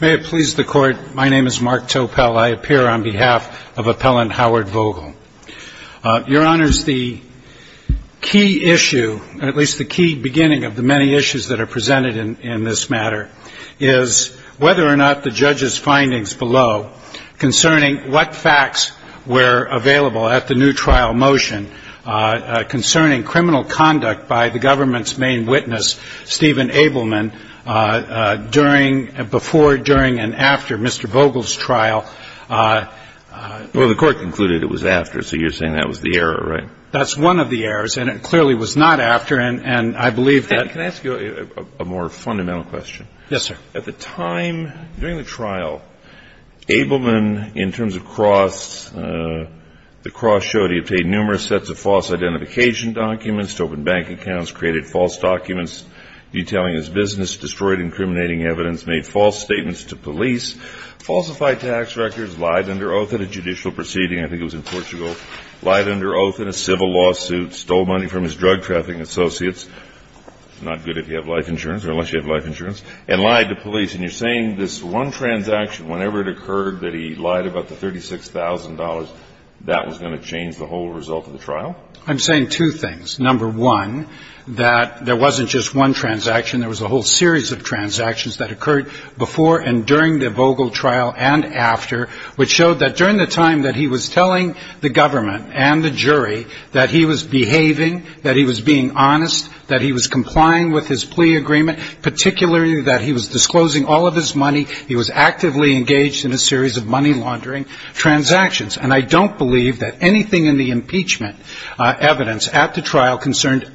May it please the Court, my name is Mark Topel. I appear on behalf of Appellant Howard Vogel. Your Honors, the key issue, at least the key beginning of the many issues that are presented in this matter, is whether or not the judge's findings below concerning what facts were concerning criminal conduct by the government's main witness, Stephen Abelman, before, during, and after Mr. Vogel's trial. Well, the Court concluded it was after, so you're saying that was the error, right? That's one of the errors, and it clearly was not after, and I believe that... Can I ask you a more fundamental question? Yes, sir. At the time, during the trial, Abelman, in terms of cross, the cross showed he obtained numerous sets of false identification documents, opened bank accounts, created false documents detailing his business, destroyed incriminating evidence, made false statements to police, falsified tax records, lied under oath at a judicial proceeding, I think it was in Portugal, lied under oath in a civil lawsuit, stole money from his drug trafficking associates, not good if you have life insurance or unless you have life insurance, and lied to police. And you're saying this one transaction, whenever it occurred that he lied about the $36,000, that was going to change the whole result of the trial? I'm saying two things. Number one, that there wasn't just one transaction, there was a whole series of transactions that occurred before and during the Vogel trial and after, which showed that during the time that he was telling the government and the jury that he was behaving, that he was being honest, that he was complying with his plea in a series of money laundering transactions. And I don't believe that anything in the impeachment evidence at the trial concerned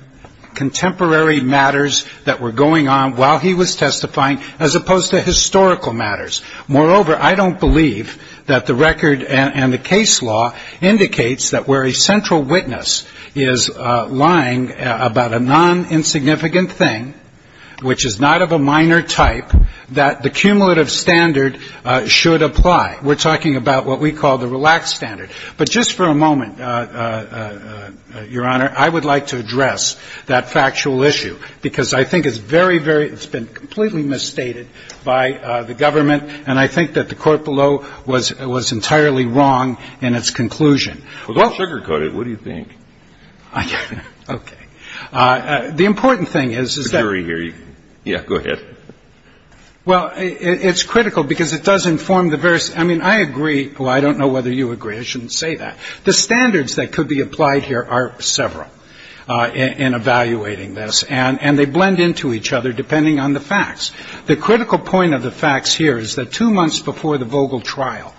contemporary matters that were going on while he was testifying as opposed to historical matters. Moreover, I don't believe that the record and the case law indicates that where a central witness is lying about a non-insignificant thing, which is not of a minor type, that the cumulative standard should apply. We're talking about what we call the relaxed standard. But just for a moment, Your Honor, I would like to address that factual issue, because I think it's very, very – it's been completely misstated by the government, and I think that the court below was entirely wrong in its conclusion. Well, don't sugarcoat it. What do you think? Okay. The important thing is, is that – The jury here – yeah, go ahead. Well, it's critical because it does inform the various – I mean, I agree – well, I don't know whether you agree. I shouldn't say that. The standards that could be applied here are several in evaluating this, and they blend into each other depending on the facts. The critical point of the facts here is that two months before the Vogel trial,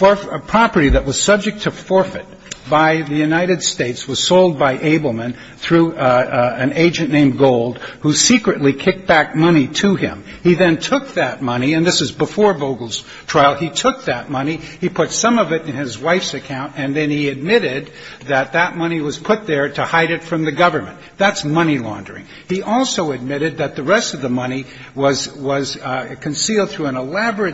a property that was subject to forfeit by the United States was sold by Abelman through an agent named Gold, who secretly kicked back money to him. He then took that money – and this is before Vogel's trial – he took that money, he put some of it in his wife's account, and then he admitted that that money was put there to hide it from the government. That's money laundering. He also admitted that the rest of the money was concealed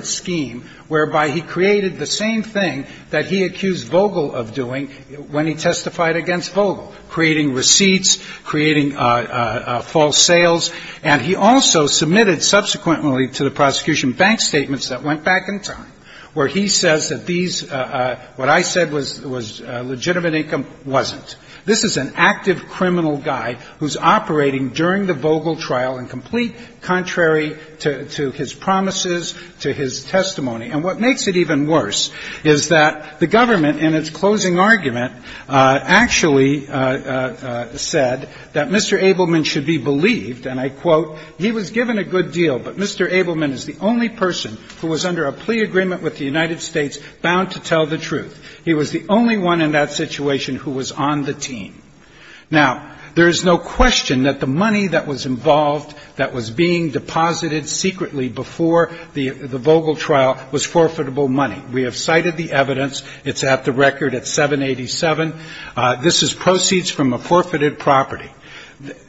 scheme whereby he created the same thing that he accused Vogel of doing when he testified against Vogel, creating receipts, creating false sales. And he also submitted subsequently to the prosecution bank statements that went back in time, where he says that these – what I said was legitimate income wasn't. This is an active criminal guy who's operating during the Vogel trial and complete contrary to his promises, to his testimony. And what makes it even worse is that the government in its closing argument actually said that Mr. Abelman should be believed, and I quote, he was given a good deal, but Mr. Abelman is the only person who was under a plea agreement with the United States bound to tell the truth. He was the only one in that situation who was on the team. Now, there is no question that the money that was involved, that was being deposited secretly before the Vogel trial, was forfeitable money. We have cited the evidence. It's at the record at 787. This is proceeds from a forfeited property.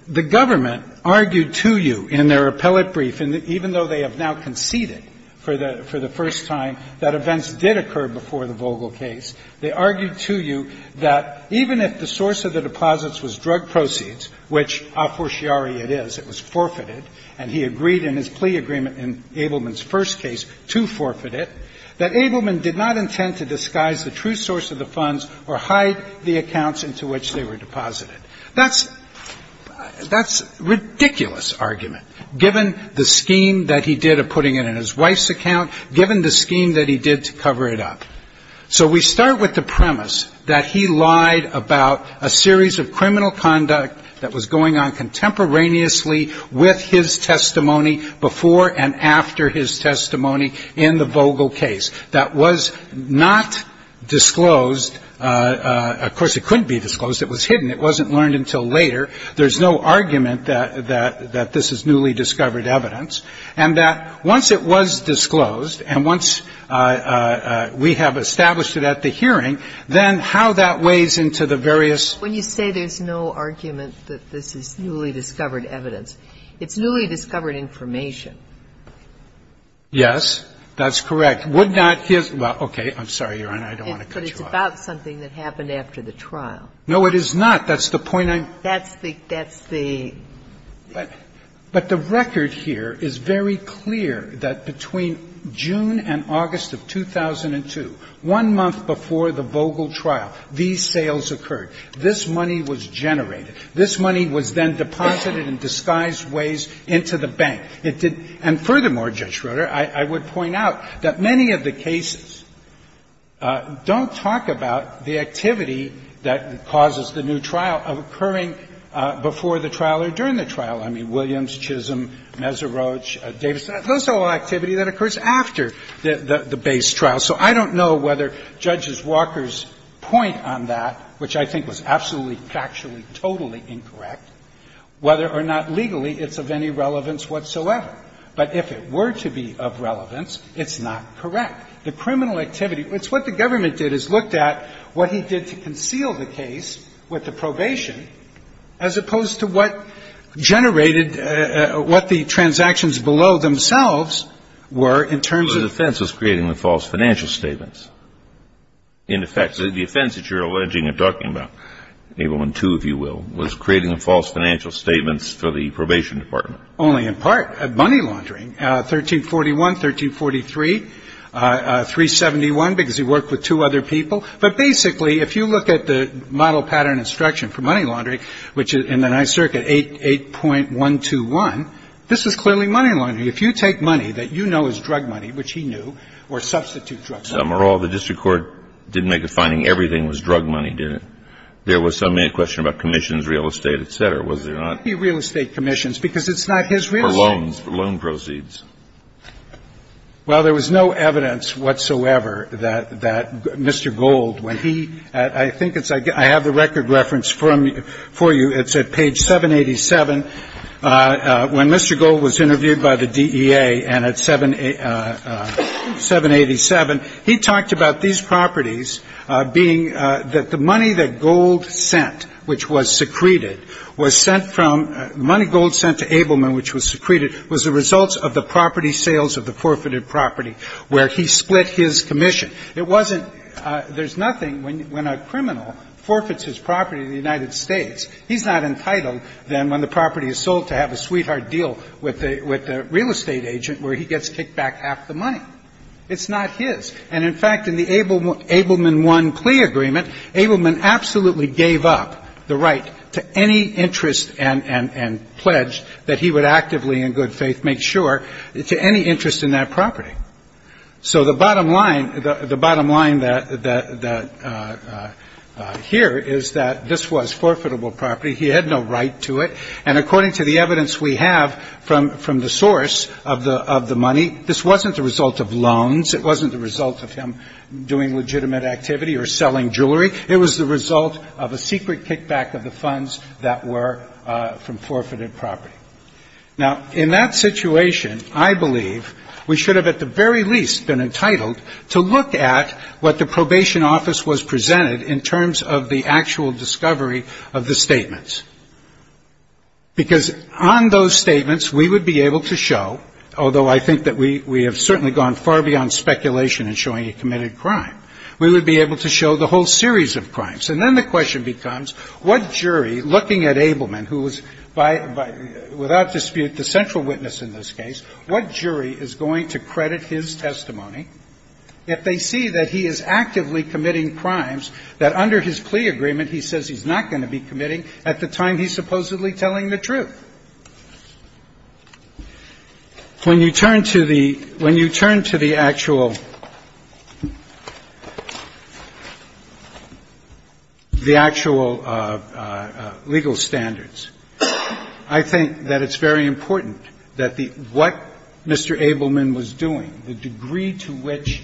The government argued to you in their appellate brief, and even though they have now conceded for the first time that events did occur before the Vogel case, they did not intend to disguise the true source of the funds or hide the accounts into which they were deposited. That's ridiculous argument, given the scheme that he did of putting it in his wife's account, given the scheme that he did to cover it up. So we start with the premise that he lied about a series of fraudulent conduct that was going on contemporaneously with his testimony before and after his testimony in the Vogel case that was not disclosed. Of course, it couldn't be disclosed. It was hidden. It wasn't learned until later. There's no argument that this is newly discovered evidence. And that once it was disclosed, and once we have established it at the hearing, then how that weighs into the various ---- Sotomayor, when you say there's no argument that this is newly discovered evidence, it's newly discovered information. Yes, that's correct. Would not his ---- well, okay, I'm sorry, Your Honor, I don't want to cut you off. But it's about something that happened after the trial. No, it is not. That's the point I'm ---- That's the ---- that's the ---- But the record here is very clear that between June and August of 2002, one month before the Vogel trial, these sales occurred. This money was generated. This money was then deposited in disguised ways into the bank. It did ---- and furthermore, Judge Schroeder, I would point out that many of the cases don't talk about the activity that causes the new trial occurring before the trial or during the trial. I mean, Williams, Chisholm, Mesa Roach, Davis, those are all activity that occurs after the base trial. So I don't know whether Judges Walker's point on that, which I think was absolutely factually, totally incorrect, whether or not legally it's of any relevance whatsoever. But if it were to be of relevance, it's not correct. The criminal activity ---- it's what the government did, is looked at what he did to conceal the case with the probation as opposed to what generated ---- what the transactions below themselves were in terms of ---- This is creating the false financial statements. In effect, the offense that you're alleging and talking about, Abelman II, if you will, was creating the false financial statements for the probation department. Only in part. Money laundering. 1341, 1343, 371, because he worked with two other people. But basically, if you look at the model pattern instruction for money laundering, which in the Ninth Circuit, 8.121, this is clearly money laundering. If you take money that you know is drug money, which he knew, or substitute drug money. Alito, the district court didn't make a finding everything was drug money, did it? There was some question about commissions, real estate, et cetera, was there not? Real estate commissions, because it's not his real estate. For loans, loan proceeds. Well, there was no evidence whatsoever that Mr. Gold, when he ---- I think it's ---- I have the record reference for you. It's at page 787. When Mr. Gold was interviewed by the DEA, and at 787, he talked about these properties being that the money that Gold sent, which was secreted, was sent from ---- money Gold sent to Abelman, which was secreted, was the results of the property sales of the forfeited property where he split his commission. It wasn't ---- there's nothing when a criminal forfeits his property in the United States. He's not entitled, then, when the property is sold, to have a sweetheart deal with the real estate agent where he gets kicked back half the money. It's not his. And, in fact, in the Abelman 1 plea agreement, Abelman absolutely gave up the right to any interest and pledged that he would actively, in good faith, make sure, to any interest in that property. So the bottom line ---- the bottom line that ---- that here is that this was forfeitable property. He had no right to it. And according to the evidence we have from the source of the money, this wasn't the result of loans. It wasn't the result of him doing legitimate activity or selling jewelry. It was the result of a secret kickback of the funds that were from forfeited property. Now, in that situation, I believe we should have, at the very least, been entitled to look at what the probation office was presented in terms of the actual discovery of the statements. Because on those statements, we would be able to show, although I think that we have certainly gone far beyond speculation in showing a committed crime, we would be able to show the whole series of crimes. And then the question becomes, what jury, looking at Abelman, who was by ---- without dispute the central witness in this case, what jury is going to credit his testimony if they see that he is actively committing crimes that under his plea agreement he says he's not going to be committing at the time he's supposedly telling the truth? When you turn to the actual legal standards, I think that it's very important that what Mr. Abelman was doing, the degree to which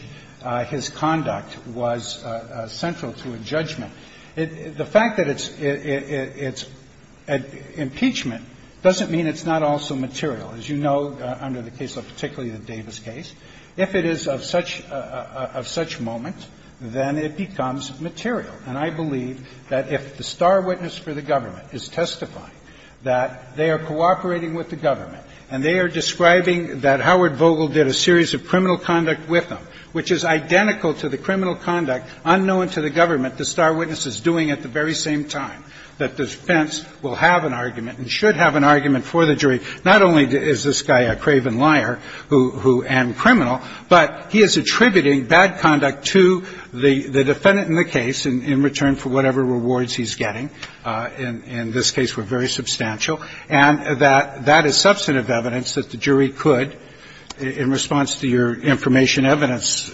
his conduct was central to a judgment, the fact that it's impeachment doesn't mean it's not also material. As you know, under the case of particularly the Davis case, if it is of such a moment, then it becomes material. And I believe that if the star witness for the government is testifying that they are cooperating with the government and they are describing that Howard Vogel did a series of criminal conduct with them, which is identical to the criminal conduct unknown to the government the star witness is doing at the very same time, that the defense will have an argument and should have an argument for the jury, not only is this guy a craven liar who am criminal, but he is attributing bad conduct to the defendant in the case in return for whatever rewards he's getting, in this case were very substantial, and that that is substantive evidence that the jury could, in response to your information evidence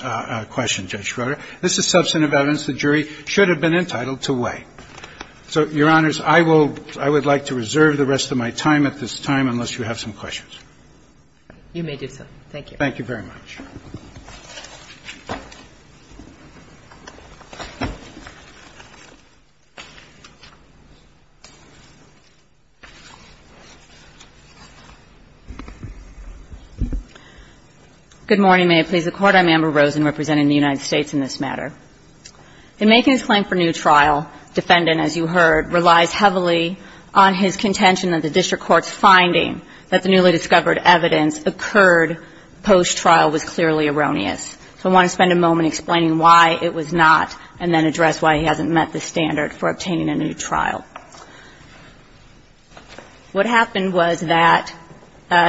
question, Judge Schroeder, this is substantive evidence the jury should have been entitled to weigh. So, Your Honors, I will – I would like to reserve the rest of my time at this time unless you have some questions. You may do so. Thank you. Thank you very much. Good morning. May it please the Court. I'm Amber Rosen representing the United States in this matter. In making his claim for new trial, defendant, as you heard, relies heavily on his finding that the newly discovered evidence occurred post-trial was clearly erroneous. So I want to spend a moment explaining why it was not, and then address why he hasn't met the standard for obtaining a new trial. What happened was that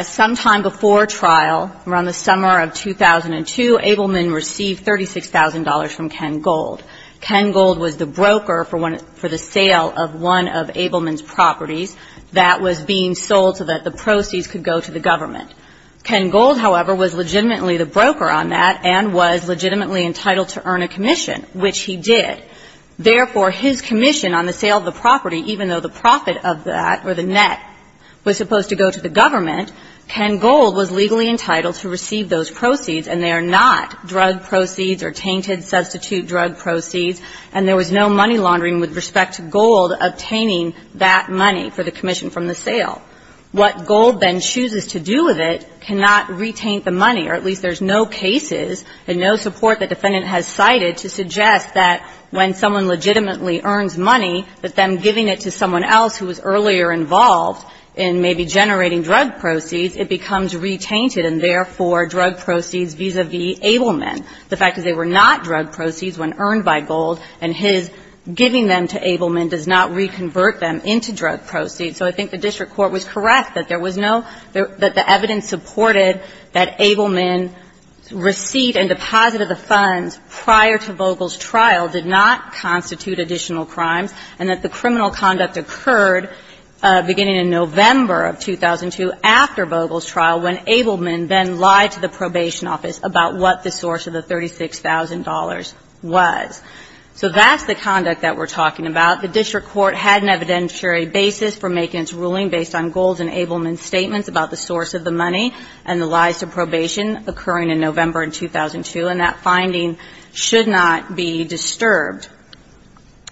sometime before trial, around the summer of 2002, Abelman received $36,000 from Ken Gold. Ken Gold was the broker for the sale of one of Abelman's properties that was being sold so that the proceeds could go to the government. Ken Gold, however, was legitimately the broker on that and was legitimately entitled to earn a commission, which he did. Therefore, his commission on the sale of the property, even though the profit of that or the net was supposed to go to the government, Ken Gold was legally entitled to receive those proceeds, and they are not drug proceeds or tainted substitute drug proceeds, and there was no money laundering with respect to Gold obtaining that money for the commission from the sale. What Gold then chooses to do with it cannot retain the money, or at least there's no cases and no support that the defendant has cited to suggest that when someone legitimately earns money, that them giving it to someone else who was earlier involved in maybe generating drug proceeds, it becomes retainted and therefore drug proceeds vis-a-vis Abelman. The fact is they were not drug proceeds when earned by Gold, and his giving them to Abelman does not reconvert them into drug proceeds. So I think the district court was correct that there was no – that the evidence supported that Abelman's receipt and deposit of the funds prior to Vogel's trial did not constitute additional crimes, and that the criminal conduct occurred beginning in November of 2002 after Vogel's trial when Abelman then lied to the probation office about what the source of the $36,000 was. So that's the conduct that we're talking about. The district court had an evidentiary basis for making its ruling based on Gold's and Abelman's statements about the source of the money and the lies to probation occurring in November in 2002, and that finding should not be disturbed.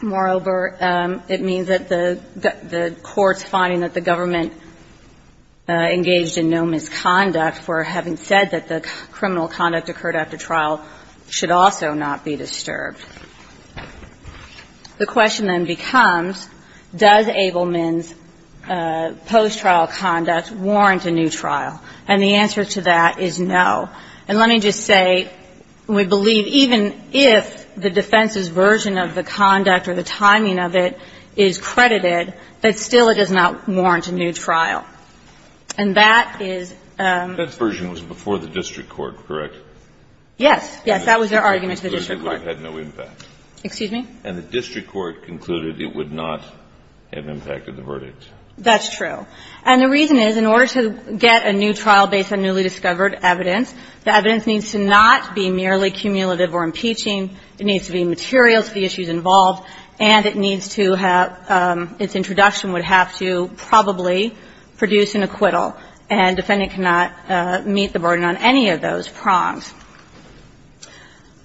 Moreover, it means that the court's finding that the government engaged in no misconduct for having said that the criminal conduct occurred after trial should also not be disturbed. The question then becomes, does Abelman's post-trial conduct warrant a new trial? And the answer to that is no. And let me just say we believe even if the defense's version of the conduct or the timing of it is credited, that still it does not warrant a new trial. And that is – That version was before the district court, correct? Yes. Yes. That was their argument to the district court. And it would have had no impact. Excuse me? And the district court concluded it would not have impacted the verdict. That's true. And the reason is, in order to get a new trial based on newly discovered evidence, the evidence needs to not be merely cumulative or impeaching. It needs to be material to the issues involved, and it needs to have – its introduction would have to probably produce an acquittal, and defendant cannot meet the burden on any of those prongs.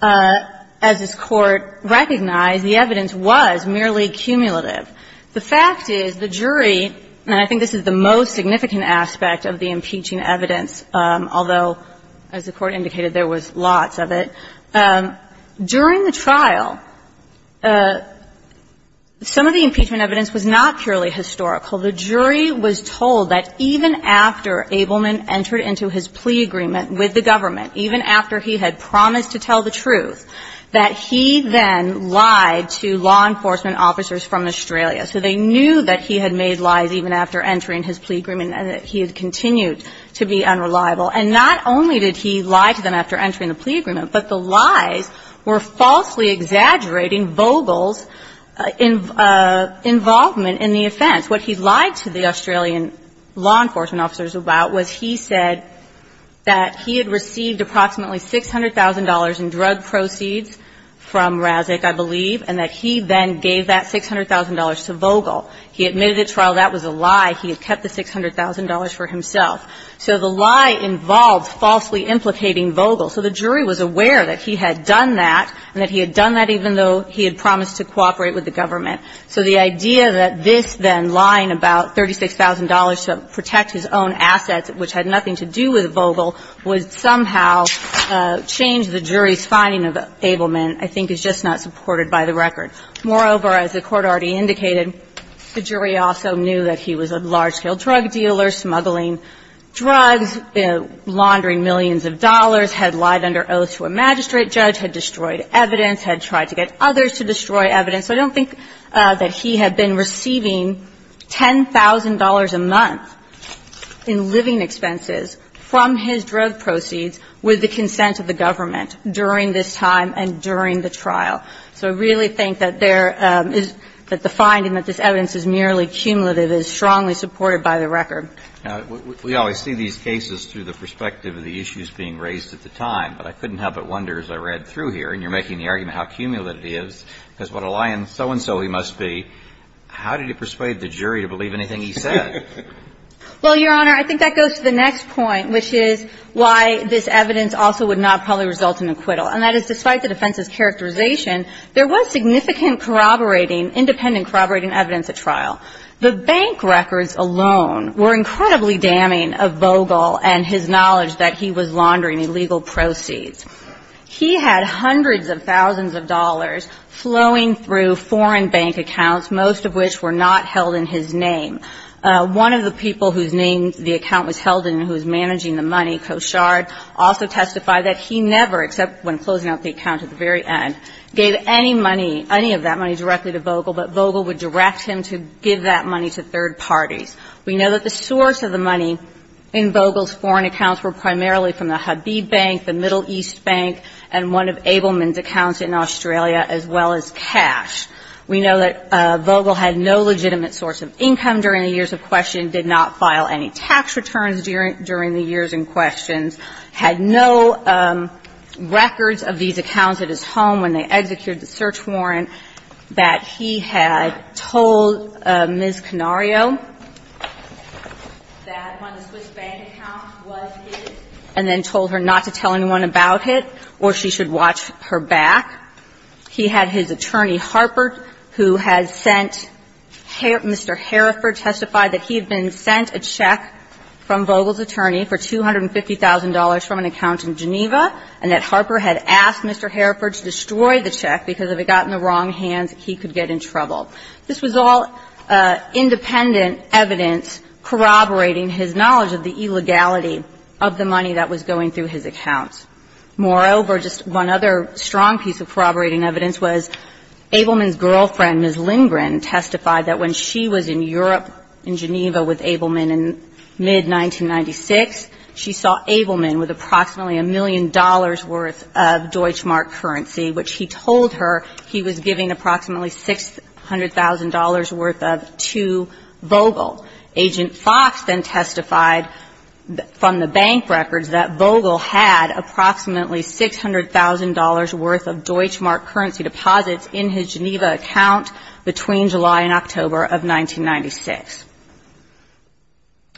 And so the fact is, as this Court recognized, the evidence was merely cumulative. The fact is, the jury – and I think this is the most significant aspect of the impeaching evidence, although, as the Court indicated, there was lots of it – during the trial, some of the impeachment evidence was not purely historical. The jury was told that even after Abelman entered into his plea agreement with the government, even after he had promised to tell the truth, that he then lied to law enforcement officers from Australia. So they knew that he had made lies even after entering his plea agreement, and that he had continued to be unreliable. And not only did he lie to them after entering the plea agreement, but the lies were falsely exaggerating Vogel's involvement in the offense. What he lied to the Australian law enforcement officers about was he said that he had received approximately $600,000 in drug proceeds from Razek, I believe, and that he then gave that $600,000 to Vogel. He admitted at trial that was a lie. He had kept the $600,000 for himself. So the lie involved falsely implicating Vogel. So the jury was aware that he had done that, and that he had done that even though he had promised to cooperate with the government. So the idea that this, then, lying about $36,000 to protect his own assets, which had nothing to do with Vogel, would somehow change the jury's finding of Abelman I think is just not supported by the record. Moreover, as the Court already indicated, the jury also knew that he was a large-scale drug dealer, smuggling drugs, laundering millions of dollars, had lied under oath to a magistrate judge, had destroyed evidence, had tried to get others to destroy evidence. So I don't think that he had been receiving $10,000 a month in living expenses from his drug proceeds with the consent of the government during this time and during the trial. So I really think that there is the finding that this evidence is merely cumulative, is strongly supported by the record. Now, we always see these cases through the perspective of the issues being raised at the time, but I couldn't help but wonder as I read through here, and you're lying so-and-so he must be, how did he persuade the jury to believe anything he said? Well, Your Honor, I think that goes to the next point, which is why this evidence also would not probably result in acquittal. And that is, despite the defense's characterization, there was significant corroborating, independent corroborating evidence at trial. The bank records alone were incredibly damning of Vogel and his knowledge that he was laundering illegal proceeds. He had hundreds of thousands of dollars flowing through foreign bank accounts, most of which were not held in his name. One of the people whose name the account was held in and who was managing the money, Koshard, also testified that he never, except when closing out the account at the very end, gave any money, any of that money directly to Vogel, but Vogel would direct him to give that money to third parties. We know that the source of the money in Vogel's foreign accounts were primarily from the Habib Bank, the Middle East Bank, and one of Abelman's accounts in Australia, as well as cash. We know that Vogel had no legitimate source of income during the years of questioning, did not file any tax returns during the years in questions, had no records of these accounts at his home when they executed the search warrant that he had told Ms. Canario that one of the Swiss bank accounts was his and then told her not to tell anyone about it or she should watch her back. He had his attorney, Harper, who had sent Mr. Hereford, testified that he had been sent a check from Vogel's attorney for $250,000 from an account in Geneva and that Harper had asked Mr. Hereford to destroy the check because if it got in the wrong hands, he could get in trouble. This was all independent evidence corroborating his knowledge of the illegality of the money that was going through his accounts. Moreover, just one other strong piece of corroborating evidence was Abelman's girlfriend, Ms. Lindgren, testified that when she was in Europe, in Geneva, with Abelman in mid-1996, she saw Abelman with approximately a million dollars' worth of Deutschmark currency, which he told her he was giving approximately $600,000 worth of to Vogel. Agent Fox then testified from the bank records that Vogel had approximately $600,000 worth of Deutschmark currency deposits in his Geneva account between July and October of 1996.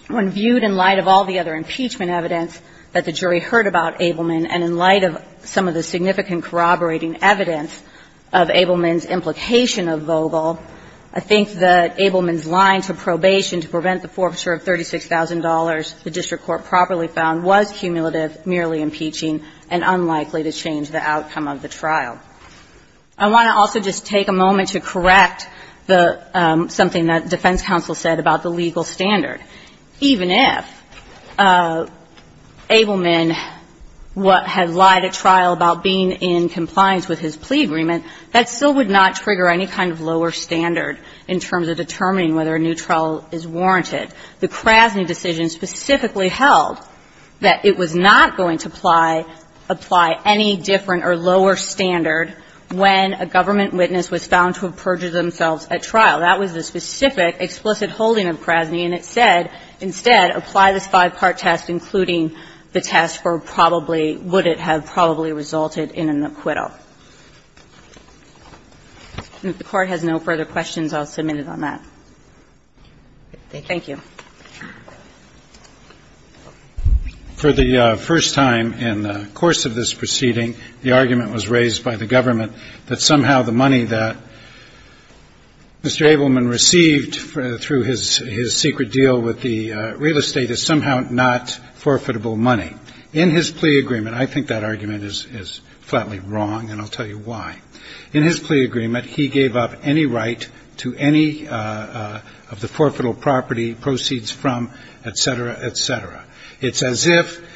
When viewed in light of all the other impeachment evidence that the jury heard about Abelman and in light of some of the significant corroborating evidence of Abelman's implication of Vogel, I think that Abelman's line to probation to prevent the forfeiture of $36,000 the district court properly found was cumulative, merely impeaching, and unlikely to change the outcome of the trial. I want to also just take a moment to correct something that defense counsel said about the legal standard. Even if Abelman had lied at trial about being in compliance with his plea agreement, that still would not trigger any kind of lower standard in terms of determining whether a new trial is warranted. The Krasny decision specifically held that it was not going to apply any different or lower standard when a government witness was found to have perjured themselves at trial. That was the specific explicit holding of Krasny, and it said, instead, apply this five-part test, including the test for probably, would it have probably resulted in an acquittal. If the Court has no further questions, I'll submit it on that. Thank you. Roberts, for the first time in the course of this proceeding, the argument was raised by the government that somehow the money that Mr. Abelman received through his secret deal with the real estate is somehow not forfeitable money. In his plea agreement, I think that argument is flatly wrong, and I'll tell you why. In his plea agreement, he gave up any right to any of the forfeitable property, proceeds from, et cetera, et cetera. It's as if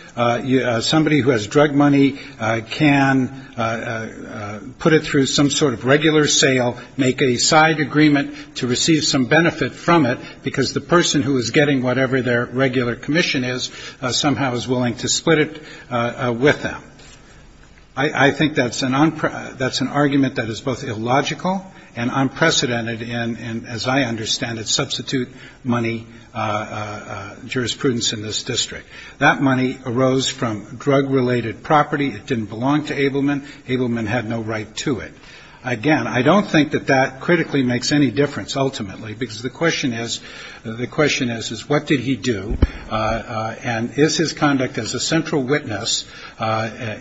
somebody who has drug money can put it through some sort of regular sale, make a side agreement to receive some benefit from it, because the person who is getting whatever their regular commission is somehow is willing to split it with them. I think that's an argument that is both illogical and unprecedented in, as I understand it, substitute money jurisprudence in this district. That money arose from drug-related property. It didn't belong to Abelman. Abelman had no right to it. Again, I don't think that that critically makes any difference, ultimately, because the question is, the question is, is what did he do, and is his conduct as a central witness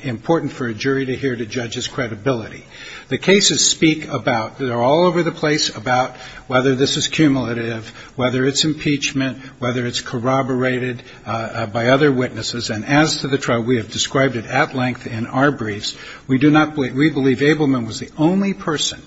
important for a jury to hear to judge his credibility? The cases speak about, they're all over the place about whether this is cumulative, whether it's impeachment, whether it's corroborated by other witnesses. And as to the trial, we have described it at length in our briefs. We do not believe, we believe Abelman was the only person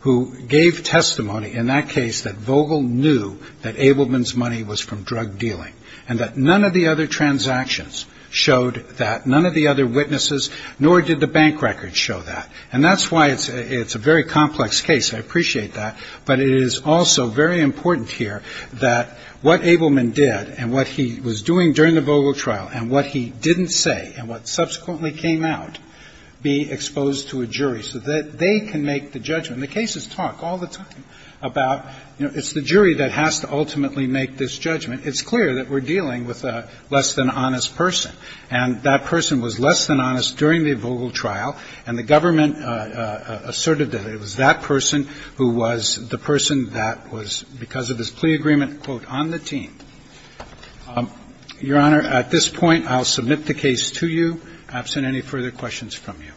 who gave testimony in that case that Vogel knew that Abelman's money was from drug dealing, and that none of the other transactions showed that, none of the other witnesses, nor did the bank records show that. And that's why it's a very complex case. I appreciate that. But it is also very important here that what Abelman did, and what he was doing during the Vogel trial, and what he didn't say, and what subsequently came out, be exposed to a jury so that they can make the judgment. The cases talk all the time about, you know, it's the jury that has to ultimately make this judgment. It's clear that we're dealing with a less than honest person. And that person was less than honest during the Vogel trial, and the government asserted that it was that person who was the person that was, because of this plea agreement, quote, on the team. Your Honor, at this point, I'll submit the case to you, absent any further questions from you.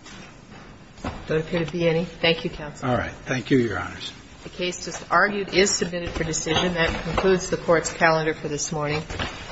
But could it be any? Thank you, counsel. All right. Thank you, Your Honors. The case just argued is submitted for decision. That concludes the Court's calendar for this morning.